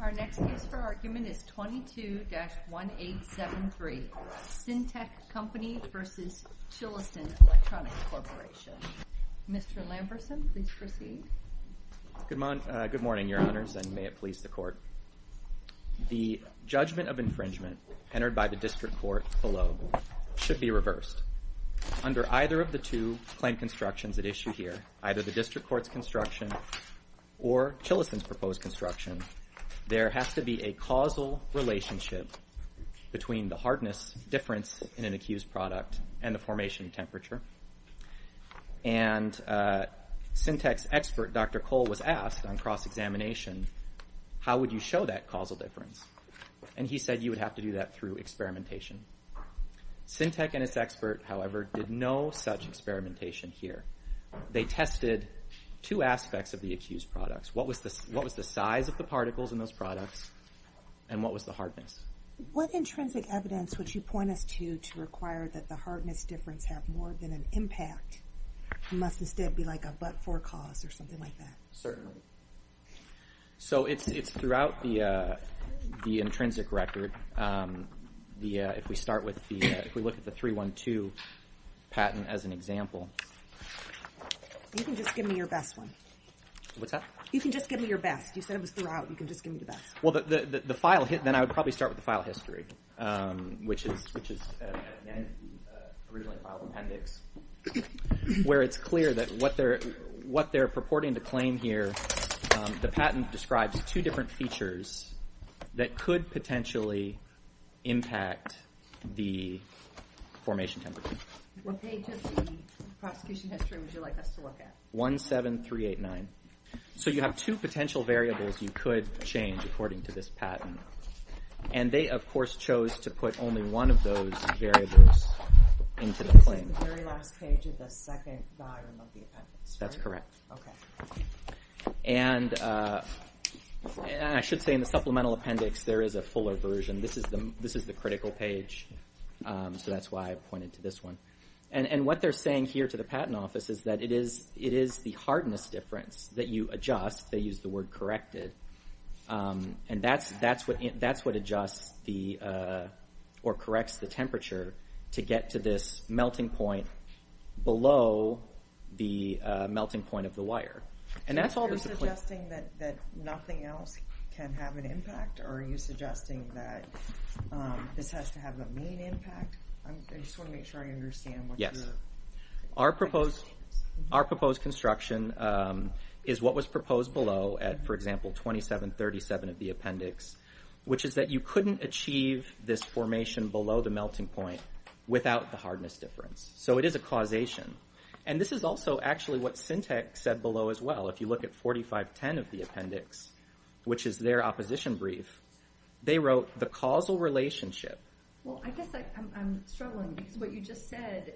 Our next case for argument is 22-1873, Cintec Company v. Chilisin Electronics Corp. Mr. Lamberson, please proceed. Good morning, Your Honors, and may it please the Court. The judgment of infringement entered by the District Court below should be reversed. Under either of the two claim constructions at issue here, either the District Court's construction or Chilisin's proposed construction, there has to be a causal relationship between the hardness difference in an accused product and the formation temperature. And Cintec's expert, Dr. Cole, was asked on cross-examination, how would you show that causal difference? And he said you would have to do that through experimentation. Cintec and its expert, however, did no such experimentation here. They tested two aspects of the accused products. What was the size of the particles in those products, and what was the hardness? What intrinsic evidence would you point us to to require that the hardness difference have more than an impact and must instead be like a but-for cause or something like that? Certainly. So it's throughout the intrinsic record. If we look at the 312 patent as an example. You can just give me your best one. What's that? You can just give me your best. You said it was throughout. You can just give me the best. Well, then I would probably start with the file history, which is at the end of the original file appendix, where it's clear that what they're purporting to claim here, the patent describes two different features that could potentially impact the formation temperature. What page of the prosecution history would you like us to look at? 17389. So you have two potential variables you could change according to this patent. And they, of course, chose to put only one of those variables into the claim. This is the very last page of the second volume of the appendix, right? Correct. Okay. And I should say in the supplemental appendix, there is a fuller version. This is the critical page, so that's why I pointed to this one. And what they're saying here to the patent office is that it is the hardness difference that you adjust. They use the word corrected. And that's what adjusts or corrects the temperature to get to this melting point below the melting point of the wire. And that's all there's to claim. So you're suggesting that nothing else can have an impact, or are you suggesting that this has to have a mean impact? I just want to make sure I understand what you're saying. Yes. Our proposed construction is what was proposed below at, for example, 2737 of the appendix, which is that you couldn't achieve this formation below the melting point without the hardness difference. So it is a causation. And this is also actually what Syntec said below as well. If you look at 4510 of the appendix, which is their opposition brief, they wrote the causal relationship. Well, I guess I'm struggling because what you just said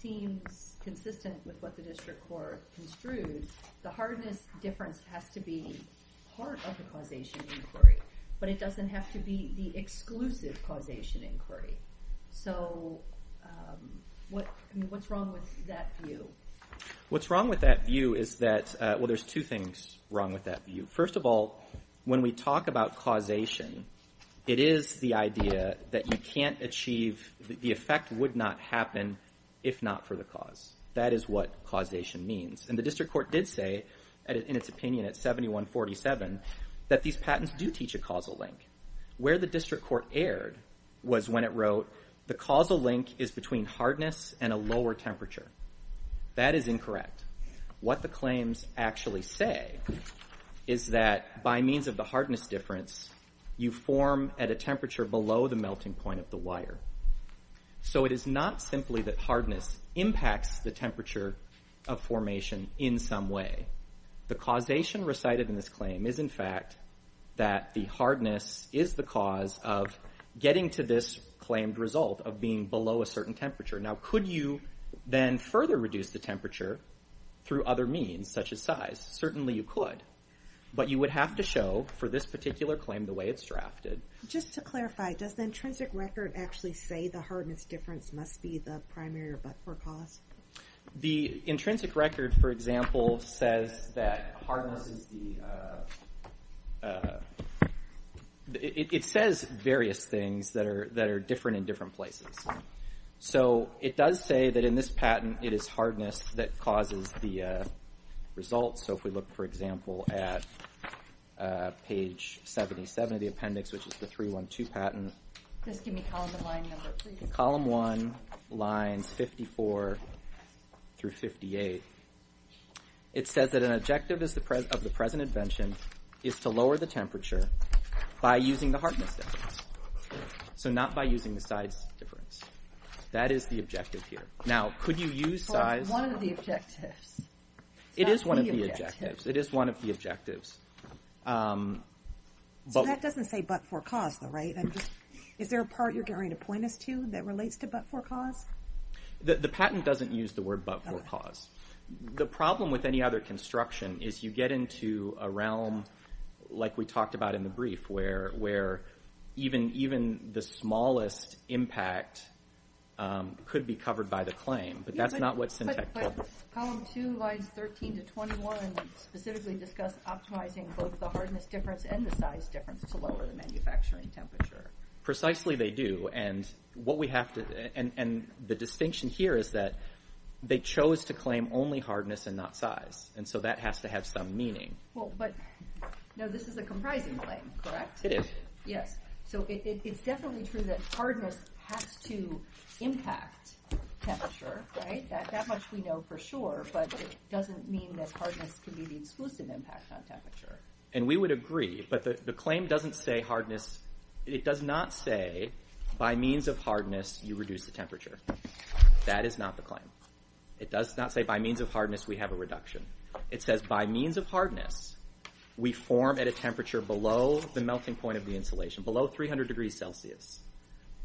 seems consistent with what the district court construed. The hardness difference has to be part of the causation inquiry. But it doesn't have to be the exclusive causation inquiry. So what's wrong with that view? What's wrong with that view is that, well, there's two things wrong with that view. First of all, when we talk about causation, it is the idea that you can't achieve, the effect would not happen if not for the cause. That is what causation means. And the district court did say in its opinion at 7147 that these patents do teach a causal link. Where the district court erred was when it wrote the causal link is between hardness and a lower temperature. That is incorrect. What the claims actually say is that by means of the hardness difference, you form at a temperature below the melting point of the wire. So it is not simply that hardness impacts the temperature of formation in some way. The causation recited in this claim is in fact that the hardness is the cause of getting to this claimed result of being below a certain temperature. Now, could you then further reduce the temperature through other means, such as size? Certainly you could. But you would have to show for this particular claim the way it's drafted. Just to clarify, does the intrinsic record actually say the hardness difference must be the primary or but-for cause? The intrinsic record, for example, says that hardness is the... It says various things that are different in different places. So it does say that in this patent it is hardness that causes the results. So if we look, for example, at page 77 of the appendix, which is the 312 patent... Just give me column and line number, please. In column one, lines 54 through 58, it says that an objective of the present invention is to lower the temperature by using the hardness difference. So not by using the size difference. That is the objective here. Now, could you use size... Well, it's one of the objectives. It is one of the objectives. It is one of the objectives. So that doesn't say but-for-cause, though, right? Is there a part you're getting ready to point us to that relates to but-for-cause? The patent doesn't use the word but-for-cause. The problem with any other construction is you get into a realm, like we talked about in the brief, where even the smallest impact could be covered by the claim. But column two, lines 13 to 21, specifically discuss optimizing both the hardness difference and the size difference to lower the manufacturing temperature. Precisely they do, and the distinction here is that they chose to claim only hardness and not size, and so that has to have some meaning. Well, but this is a comprising claim, correct? It is. Yes. So it's definitely true that hardness has to impact temperature, right? That much we know for sure, but it doesn't mean that hardness can be the exclusive impact on temperature. And we would agree, but the claim doesn't say hardness. It does not say by means of hardness you reduce the temperature. That is not the claim. It does not say by means of hardness we have a reduction. It says by means of hardness we form at a temperature below the melting point of the insulation, below 300 degrees Celsius.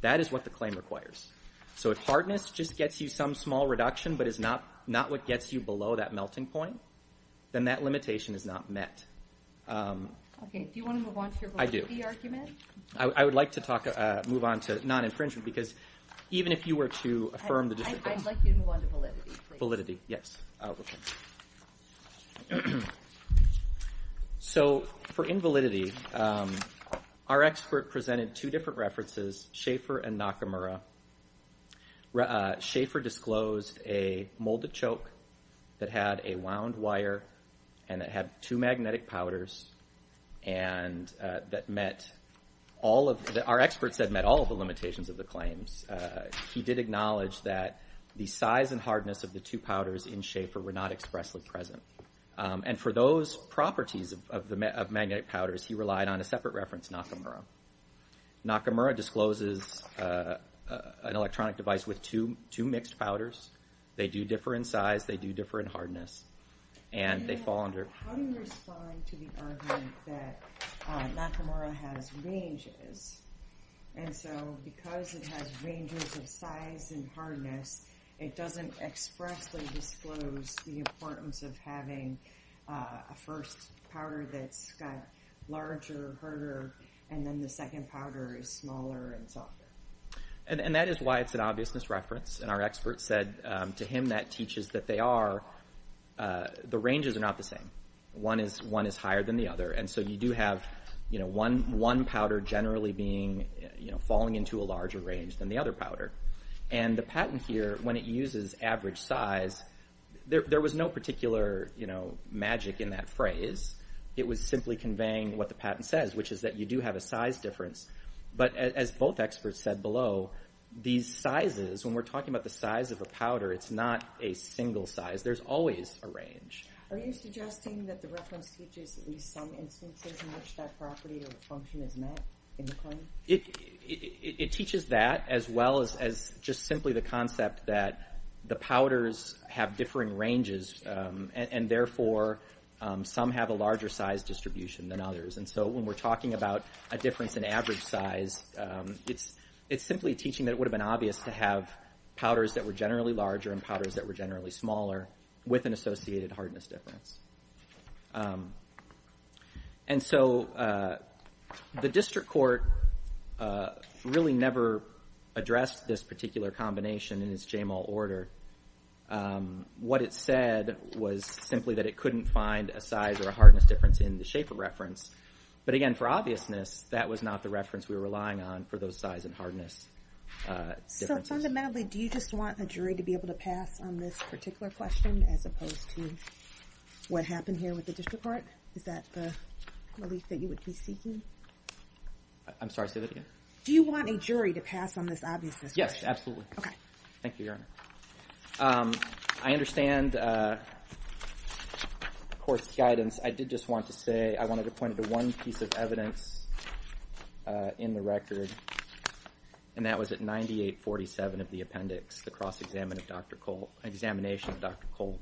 That is what the claim requires. So if hardness just gets you some small reduction but is not what gets you below that melting point, then that limitation is not met. Okay. Do you want to move on to your validity argument? I do. I would like to move on to non-infringement because even if you were to affirm the distinction. I'd like you to move on to validity, please. Validity, yes. Okay. So for invalidity, our expert presented two different references, Schaefer and Nakamura. Schaefer disclosed a molded choke that had a wound wire and that had two magnetic powders and that met all of the – our expert said met all of the limitations of the claims. He did acknowledge that the size and hardness of the two powders in Schaefer were not expressly present. And for those properties of magnetic powders, he relied on a separate reference, Nakamura. Nakamura discloses an electronic device with two mixed powders. They do differ in size. They do differ in hardness. And they fall under – How do you respond to the argument that Nakamura has ranges and so because it has ranges of size and hardness, it doesn't expressly disclose the importance of having a first powder that's got larger, harder, and then the second powder is smaller and softer. And that is why it's an obvious misreference. And our expert said to him that teaches that they are – the ranges are not the same. One is higher than the other. And so you do have, you know, one powder generally being, you know, falling into a larger range than the other powder. And the patent here, when it uses average size, there was no particular, you know, magic in that phrase. It was simply conveying what the patent says, which is that you do have a size difference. But as both experts said below, these sizes, when we're talking about the size of a powder, it's not a single size. There's always a range. Are you suggesting that the reference teaches at least some instances in which that property or function is met in the claim? It teaches that as well as just simply the concept that the powders have differing ranges and therefore some have a larger size distribution than others. And so when we're talking about a difference in average size, it's simply teaching that it would have been obvious to have powders that were generally larger and powders that were generally smaller with an associated hardness difference. And so the district court really never addressed this particular combination in its JML order. What it said was simply that it couldn't find a size or a hardness difference in the shape of reference. But again, for obviousness, that was not the reference we were relying on for those size and hardness differences. So fundamentally, do you just want a jury to be able to pass on this particular question as opposed to what happened here with the district court? Is that the belief that you would be seeking? I'm sorry, say that again? Do you want a jury to pass on this obviousness question? Yes, absolutely. Okay. Thank you, Your Honor. I understand the court's guidance. I did just want to say I wanted to point to one piece of evidence in the record, and that was at 9847 of the appendix, the cross-examination of Dr. Cole.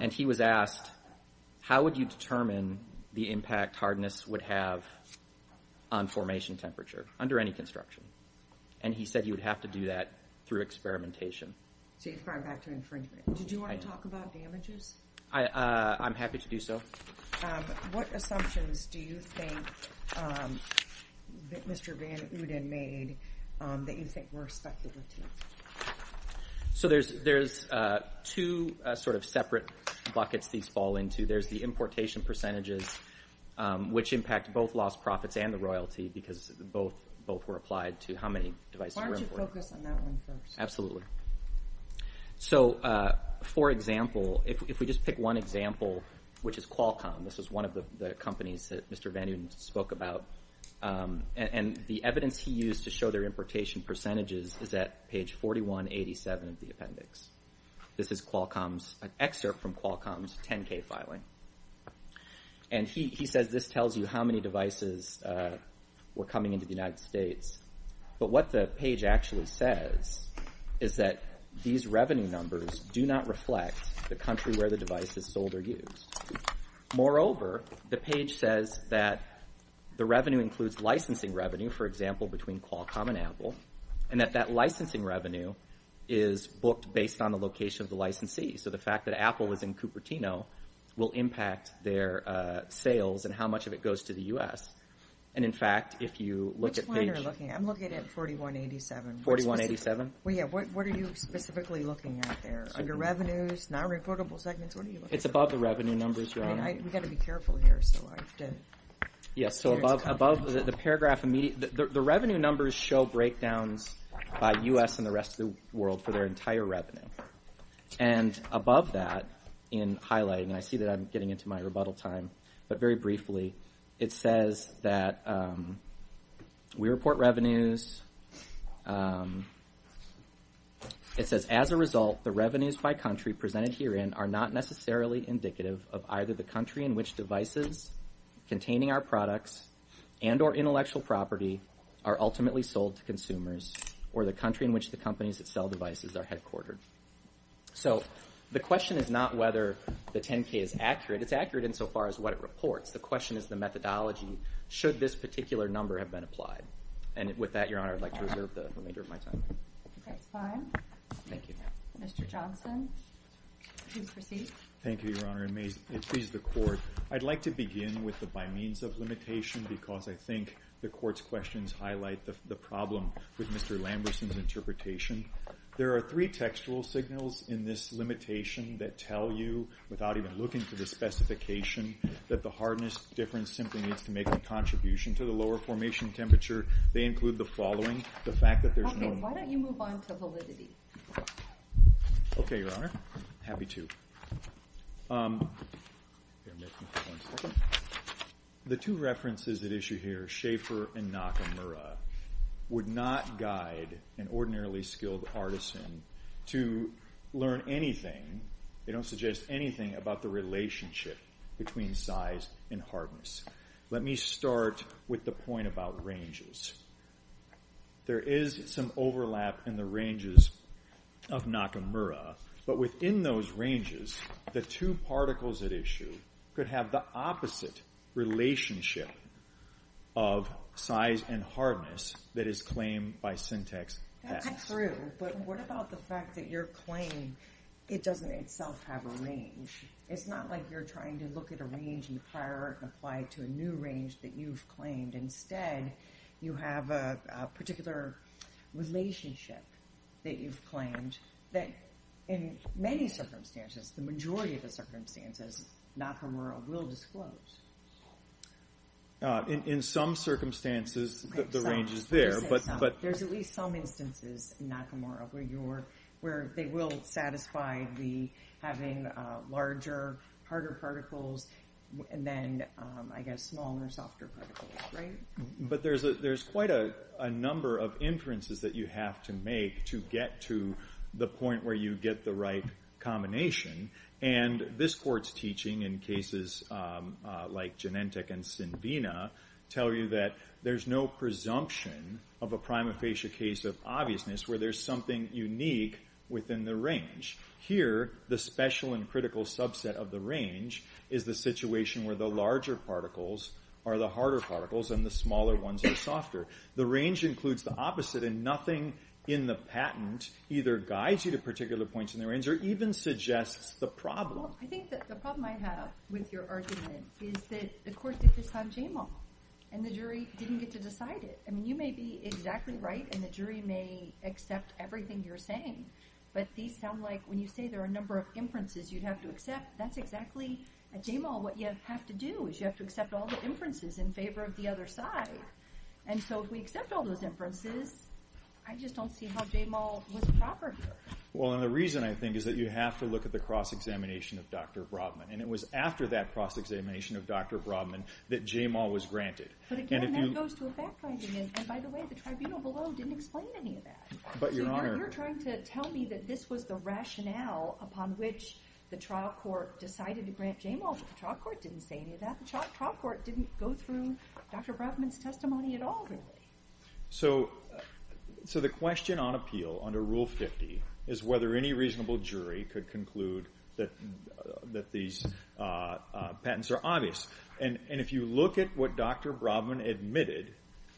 And he was asked, how would you determine the impact hardness would have on formation temperature under any construction? And he said he would have to do that through experimentation. So you're referring back to infringement. Did you want to talk about damages? I'm happy to do so. What assumptions do you think Mr. Van Uden made that you think were expected? So there's two sort of separate buckets these fall into. There's the importation percentages, which impact both lost profits and the royalty because both were applied to how many devices were imported. Why don't you focus on that one first? Absolutely. So, for example, if we just pick one example, which is Qualcomm. This is one of the companies that Mr. Van Uden spoke about. And the evidence he used to show their importation percentages is at page 4187 of the appendix. This is an excerpt from Qualcomm's 10-K filing. And he says this tells you how many devices were coming into the United States. But what the page actually says is that these revenue numbers do not reflect the country where the device is sold or used. Moreover, the page says that the revenue includes licensing revenue, for example, between Qualcomm and Apple, and that that licensing revenue is booked based on the location of the licensee. So the fact that Apple is in Cupertino will impact their sales and how much of it goes to the U.S. And, in fact, if you look at page- Which one are you looking at? I'm looking at 4187. 4187? Well, yeah, what are you specifically looking at there? Under revenues, non-reportable segments, what are you looking at? It's above the revenue numbers, Your Honor. We've got to be careful here. Yes, so above the paragraph, the revenue numbers show breakdowns by U.S. and the rest of the world for their entire revenue. And above that, in highlighting, and I see that I'm getting into my rebuttal time, but very briefly, it says that we report revenues. It says, as a result, the revenues by country presented herein are not necessarily indicative of either the country in which devices containing our products and or intellectual property are ultimately sold to consumers or the country in which the companies that sell devices are headquartered. So the question is not whether the 10-K is accurate. It's accurate insofar as what it reports. The question is the methodology. Should this particular number have been applied? And with that, Your Honor, I'd like to reserve the remainder of my time. Okay, it's fine. Thank you. Mr. Johnson, please proceed. Thank you, Your Honor, and may it please the Court, I'd like to begin with the by means of limitation because I think the Court's questions highlight the problem with Mr. Lamberson's interpretation. There are three textual signals in this limitation that tell you, without even looking for the specification, that the hardness difference simply means to make a contribution to the lower formation temperature. They include the following, the fact that there's no need. Okay, why don't you move on to validity? Okay, Your Honor, happy to. The two references at issue here, Schaefer and Nakamura, would not guide an ordinarily skilled artisan to learn anything. They don't suggest anything about the relationship between size and hardness. Let me start with the point about ranges. There is some overlap in the ranges of Nakamura, but within those ranges, the two particles at issue could have the opposite relationship of size and hardness that is claimed by syntax X. But what about the fact that your claim, it doesn't itself have a range. It's not like you're trying to look at a range in the prior art and apply it to a new range that you've claimed. Instead, you have a particular relationship that you've claimed that in many circumstances, the majority of the circumstances, Nakamura will disclose. In some circumstances, the range is there. There's at least some instances, Nakamura, where they will satisfy having larger, harder particles, and then, I guess, smaller, softer particles, right? But there's quite a number of inferences that you have to make to get to the point where you get the right combination, and this Court's teaching in cases like Genentech and Sinvina tell you that there's no presumption of a prima facie case of obviousness where there's something unique within the range. Here, the special and critical subset of the range is the situation where the larger particles are the harder particles and the smaller ones are softer. The range includes the opposite, and nothing in the patent either guides you to particular points in the range or even suggests the problem. Well, I think that the problem I have with your argument is that the Court did this on Jamal, and the jury didn't get to decide it. I mean, you may be exactly right, and the jury may accept everything you're saying, but these sound like when you say there are a number of inferences you'd have to accept, that's exactly, at Jamal, what you have to do is you have to accept all the inferences in favor of the other side, and so if we accept all those inferences, I just don't see how Jamal was proper here. Well, and the reason, I think, is that you have to look at the cross-examination of Dr. Brodman, and it was after that cross-examination of Dr. Brodman that Jamal was granted. But again, that goes to a fact-finding, and by the way, the tribunal below didn't explain any of that. You're trying to tell me that this was the rationale upon which the trial court decided to grant Jamal, but the trial court didn't say any of that. The trial court didn't go through Dr. Brodman's testimony at all, really. So the question on appeal under Rule 50 is whether any reasonable jury could conclude that these patents are obvious, and if you look at what Dr. Brodman admitted,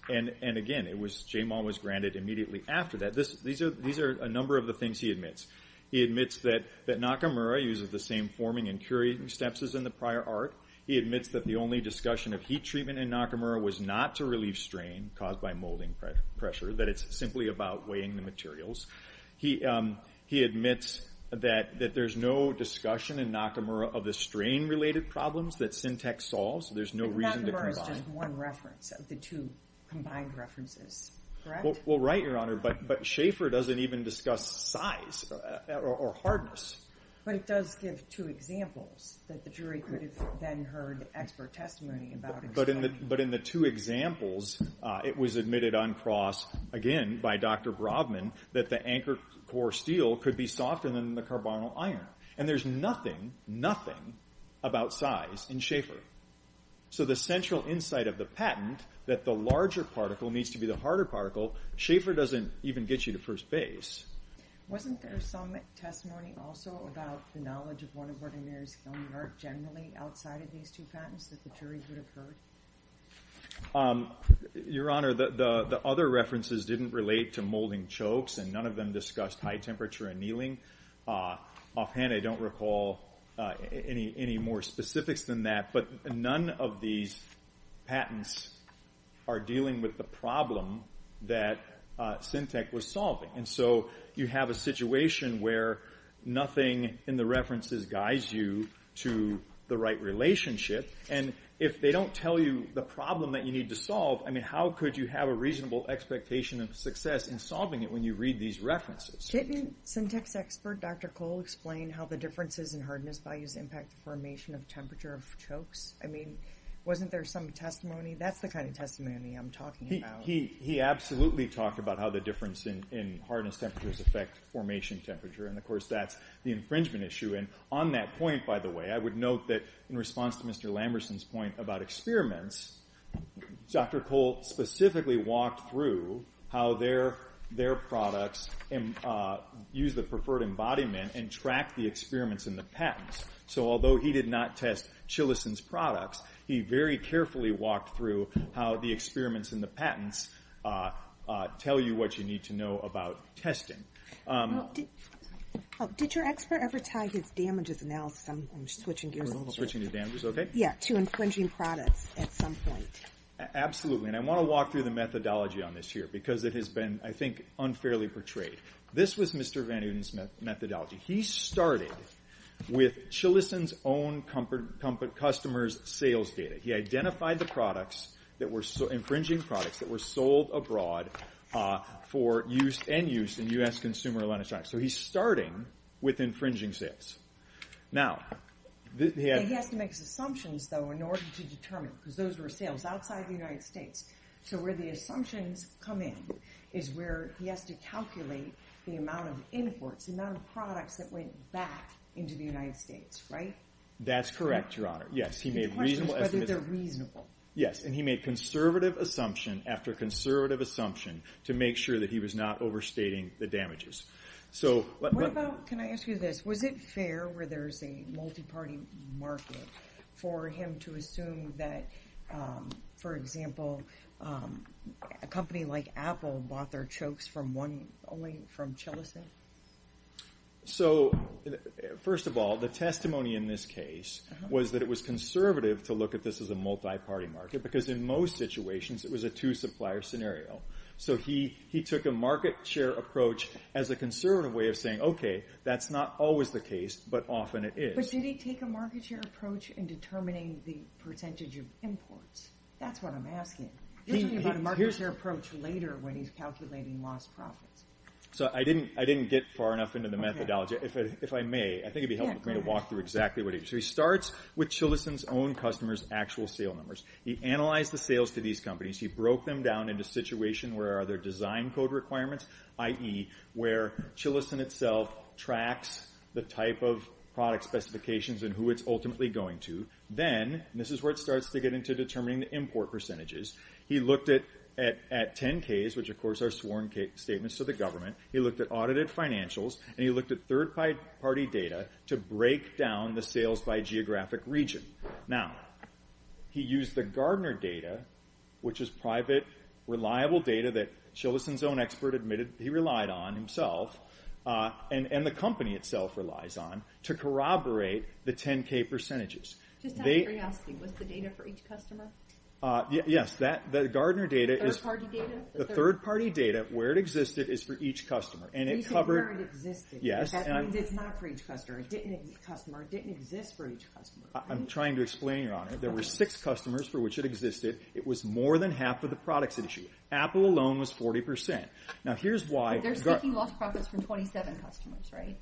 and again, Jamal was granted immediately after that. These are a number of the things he admits. He admits that Nakamura uses the same forming and curating steps as in the prior art. He admits that the only discussion of heat treatment in Nakamura was not to relieve strain caused by molding pressure, that it's simply about weighing the materials. He admits that there's no discussion in Nakamura of the strain-related problems that Syntex solves. There's no reason to combine. Nakamura is just one reference of the two combined references, correct? Well, right, Your Honor, but Schaefer doesn't even discuss size or hardness. But it does give two examples that the jury could have then heard expert testimony about. But in the two examples, it was admitted on cross, again, by Dr. Brodman, that the anchor core steel could be softer than the carbonyl iron. And there's nothing, nothing about size in Schaefer. So the central insight of the patent, that the larger particle needs to be the harder particle, Schaefer doesn't even get you to first base. Wasn't there some testimony also about the knowledge of one of Ordinaire's film work generally outside of these two patents that the jury could have heard? Your Honor, the other references didn't relate to molding chokes, and none of them discussed high temperature annealing. Offhand, I don't recall any more specifics than that. But none of these patents are dealing with the problem that Syntex was solving. And so you have a situation where nothing in the references guides you to the right relationship. And if they don't tell you the problem that you need to solve, I mean, how could you have a reasonable expectation of success in solving it when you read these references? Didn't Syntex expert Dr. Cole explain how the differences in hardness values impact the formation of temperature of chokes? I mean, wasn't there some testimony? That's the kind of testimony I'm talking about. He absolutely talked about how the difference in hardness temperatures affect formation temperature, and of course that's the infringement issue. And on that point, by the way, I would note that in response to Mr. Lamberson's point about experiments, Dr. Cole specifically walked through how their products use the preferred embodiment and track the experiments in the patents. So although he did not test Chilison's products, he very carefully walked through how the experiments in the patents tell you what you need to know about testing. Did your expert ever tie his damages analysis to infringing products at some point? Absolutely, and I want to walk through the methodology on this here because it has been, I think, unfairly portrayed. This was Mr. Van Uden's methodology. He started with Chilison's own customer's sales data. He identified the products, infringing products, that were sold abroad for end use in U.S. consumer electronics. So he's starting with infringing sales. Now, he has to make assumptions, though, in order to determine, because those were sales outside the United States. So where the assumptions come in is where he has to calculate the amount of imports, the amount of products that went back into the United States, right? That's correct, Your Honor. He questions whether they're reasonable. Yes, and he made conservative assumption after conservative assumption to make sure that he was not overstating the damages. Can I ask you this? Was it fair where there's a multi-party market for him to assume that, for example, a company like Apple bought their chokes only from Chilison? So, first of all, the testimony in this case was that it was conservative to look at this as a multi-party market because in most situations it was a two-supplier scenario. So he took a market share approach as a conservative way of saying, okay, that's not always the case, but often it is. But did he take a market share approach in determining the percentage of imports? That's what I'm asking. He's talking about a market share approach later when he's calculating lost profits. So I didn't get far enough into the methodology. If I may, I think it would be helpful for me to walk through exactly what he did. So he starts with Chilison's own customers' actual sale numbers. He analyzed the sales to these companies. He broke them down into situations where there are design code requirements, i.e. where Chilison itself tracks the type of product specifications and who it's ultimately going to. Then, and this is where it starts to get into determining the import percentages, he looked at 10Ks, which of course are sworn statements to the government. He looked at audited financials, and he looked at third-party data to break down the sales by geographic region. Now, he used the Gardner data, which is private, reliable data that Chilison's own expert admitted he relied on himself, and the company itself relies on, to corroborate the 10K percentages. Just out of curiosity, was the data for each customer? Yes, the Gardner data is… Third-party data? The third-party data, where it existed, is for each customer, and it covered… He said where it existed, but that means it's not for each customer. It didn't exist for each customer. I'm trying to explain, Your Honor. There were six customers for which it existed. It was more than half of the products at issue. Apple alone was 40%. Now, here's why… They're speaking lost profits from 27 customers, right?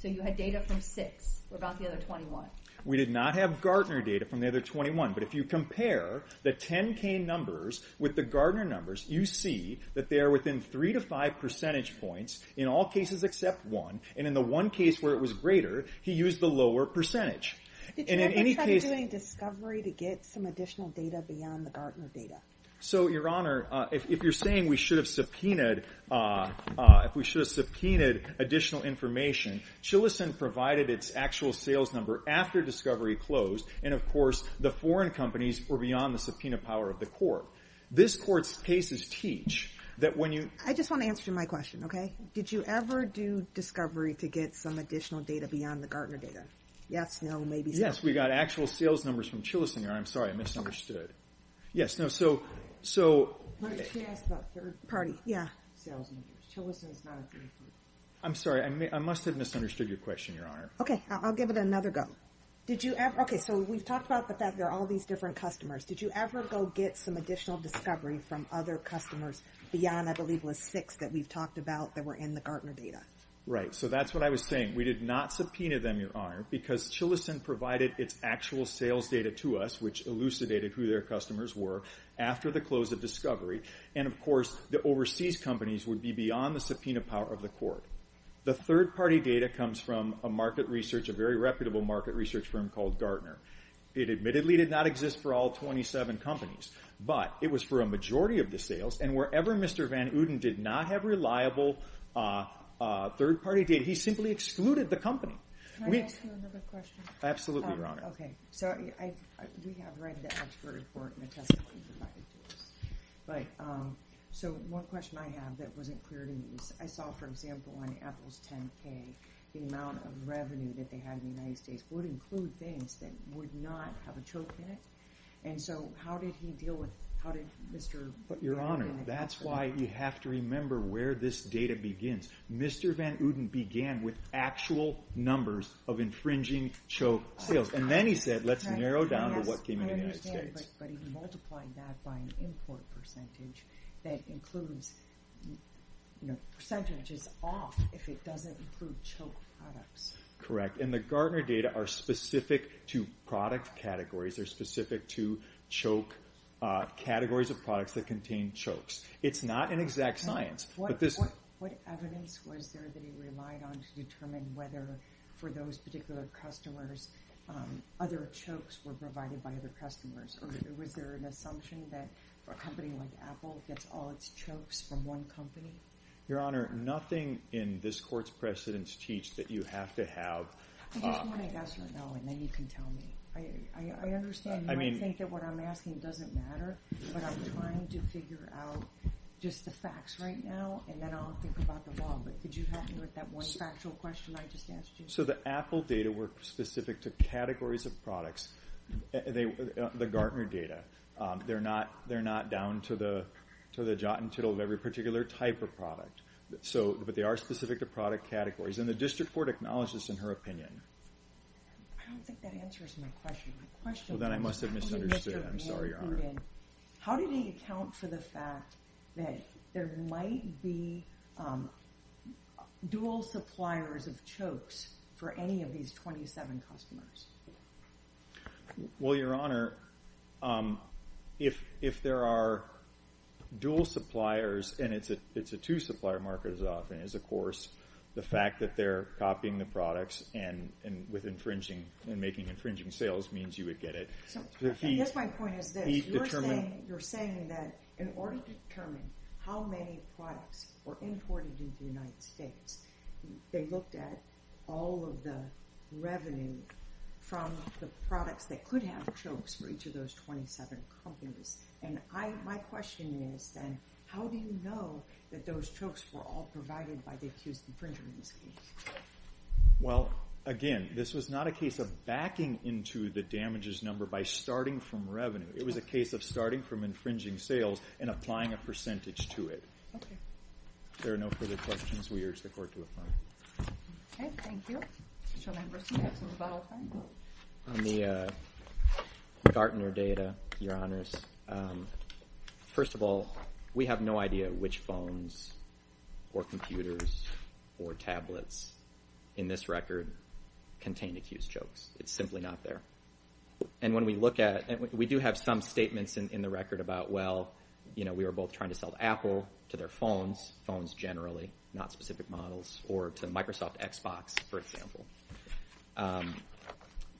So you had data from six. What about the other 21? We did not have Gardner data from the other 21, but if you compare the 10K numbers with the Gardner numbers, you see that they are within 3 to 5 percentage points in all cases except one, and in the one case where it was greater, he used the lower percentage. Did you ever try to do any discovery to get some additional data beyond the Gardner data? So, Your Honor, if you're saying we should have subpoenaed additional information, Chilicent provided its actual sales number after discovery closed, and, of course, the foreign companies were beyond the subpoena power of the court. This court's cases teach that when you… I just want to answer my question, okay? Did you ever do discovery to get some additional data beyond the Gardner data? Yes, no, maybe so. Yes, we got actual sales numbers from Chilicent, Your Honor. I'm sorry, I misunderstood. Yes, no, so… She asked about third-party sales numbers. Chilicent is not a third party. I'm sorry, I must have misunderstood your question, Your Honor. Okay, I'll give it another go. Okay, so we've talked about the fact there are all these different customers. Did you ever go get some additional discovery from other customers beyond, I believe, was six that we've talked about that were in the Gardner data? Right, so that's what I was saying. We did not subpoena them, Your Honor, because Chilicent provided its actual sales data to us, which elucidated who their customers were after the close of discovery, and, of course, the overseas companies would be beyond the subpoena power of the court. The third-party data comes from a market research, a very reputable market research firm called Gardner. It admittedly did not exist for all 27 companies, but it was for a majority of the sales, and wherever Mr. Van Uden did not have reliable third-party data, he simply excluded the company. Can I ask you another question? Absolutely, Your Honor. Okay, so we have read the expert report and the testimony provided to us, but one question I have that wasn't clear to me is I saw, for example, on Apple's 10K, the amount of revenue that they had in the United States would include things that would not have a choke in it, and so how did he deal with it? Your Honor, that's why you have to remember where this data begins. Mr. Van Uden began with actual numbers of infringing choke sales, and then he said let's narrow down to what came in the United States. Yes, I understand, but he multiplied that by an import percentage that includes percentages off if it doesn't include choke products. Correct, and the Gardner data are specific to product categories. They're specific to categories of products that contain chokes. It's not an exact science. What evidence was there that he relied on to determine whether for those particular customers other chokes were provided by other customers, or was there an assumption that a company like Apple gets all its chokes from one company? Your Honor, nothing in this court's precedents teach that you have to have. I just want to ask right now, and then you can tell me. I understand and I think that what I'm asking doesn't matter, but I'm trying to figure out just the facts right now, and then I'll think about the law. Could you help me with that one factual question I just asked you? So the Apple data were specific to categories of products, the Gardner data. They're not down to the jot and tittle of every particular type of product, but they are specific to product categories, and the district court acknowledges this in her opinion. I don't think that answers my question. How do they account for the fact that there might be dual suppliers of chokes for any of these 27 customers? Well, Your Honor, if there are dual suppliers and it's a two-supplier market as often as a course, the fact that they're copying the products and making infringing sales means you would get it. So I guess my point is this. You're saying that in order to determine how many products were imported into the United States, they looked at all of the revenue from the products that could have chokes for each of those 27 companies, and my question is then how do you know that those chokes were all provided by the accused infringer in this case? Well, again, this was not a case of backing into the damages number by starting from revenue. It was a case of starting from infringing sales and applying a percentage to it. Okay. If there are no further questions, we urge the court to affirm. Okay, thank you. Mr. Lamberson, do you have something to follow up on? On the Gardner data, Your Honors, first of all, we have no idea which phones or computers or tablets in this record contain accused chokes. It's simply not there. And when we look at it, we do have some statements in the record about, well, you know, we were both trying to sell to Apple, to their phones, phones generally, not specific models, or to Microsoft Xbox, for example.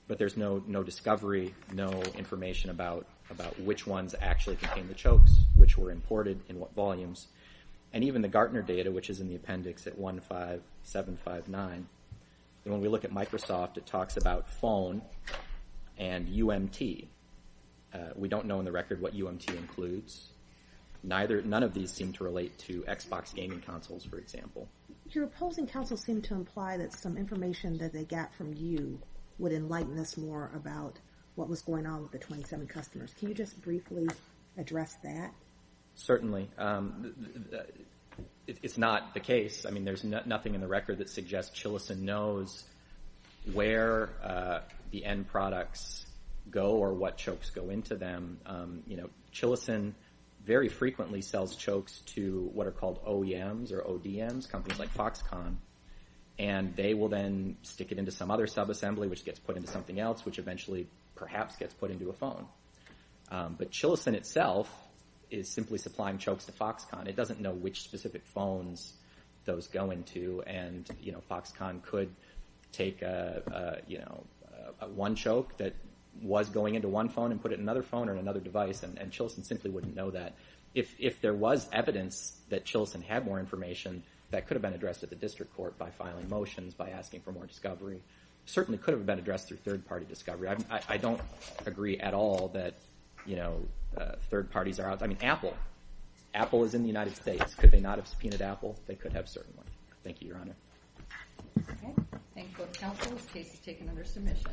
But there's no discovery, no information about which ones actually contain the chokes, which were imported in what volumes, and even the Gardner data, which is in the appendix at 15759. And when we look at Microsoft, it talks about phone and UMT. We don't know in the record what UMT includes. None of these seem to relate to Xbox gaming consoles, for example. Your opposing counsel seemed to imply that some information that they got from you would enlighten us more about what was going on with the 27 customers. Can you just briefly address that? Certainly. It's not the case. I mean, there's nothing in the record that suggests Chilison knows where the end products go or what chokes go into them. You know, Chilison very frequently sells chokes to what are called OEMs or ODMs, companies like Foxconn. And they will then stick it into some other subassembly, which gets put into something else, which eventually perhaps gets put into a phone. But Chilison itself is simply supplying chokes to Foxconn. It doesn't know which specific phones those go into, and, you know, Foxconn could take, you know, one choke that was going into one phone and put it in another phone or another device, and Chilison simply wouldn't know that. If there was evidence that Chilison had more information, that could have been addressed at the district court by filing motions, by asking for more discovery. It certainly could have been addressed through third-party discovery. I don't agree at all that, you know, third parties are out there. I mean, Apple. Apple is in the United States. Could they not have subpoenaed Apple? They could have certainly. Thank you, Your Honor. Okay. Thank you both counsel. This case is taken under submission.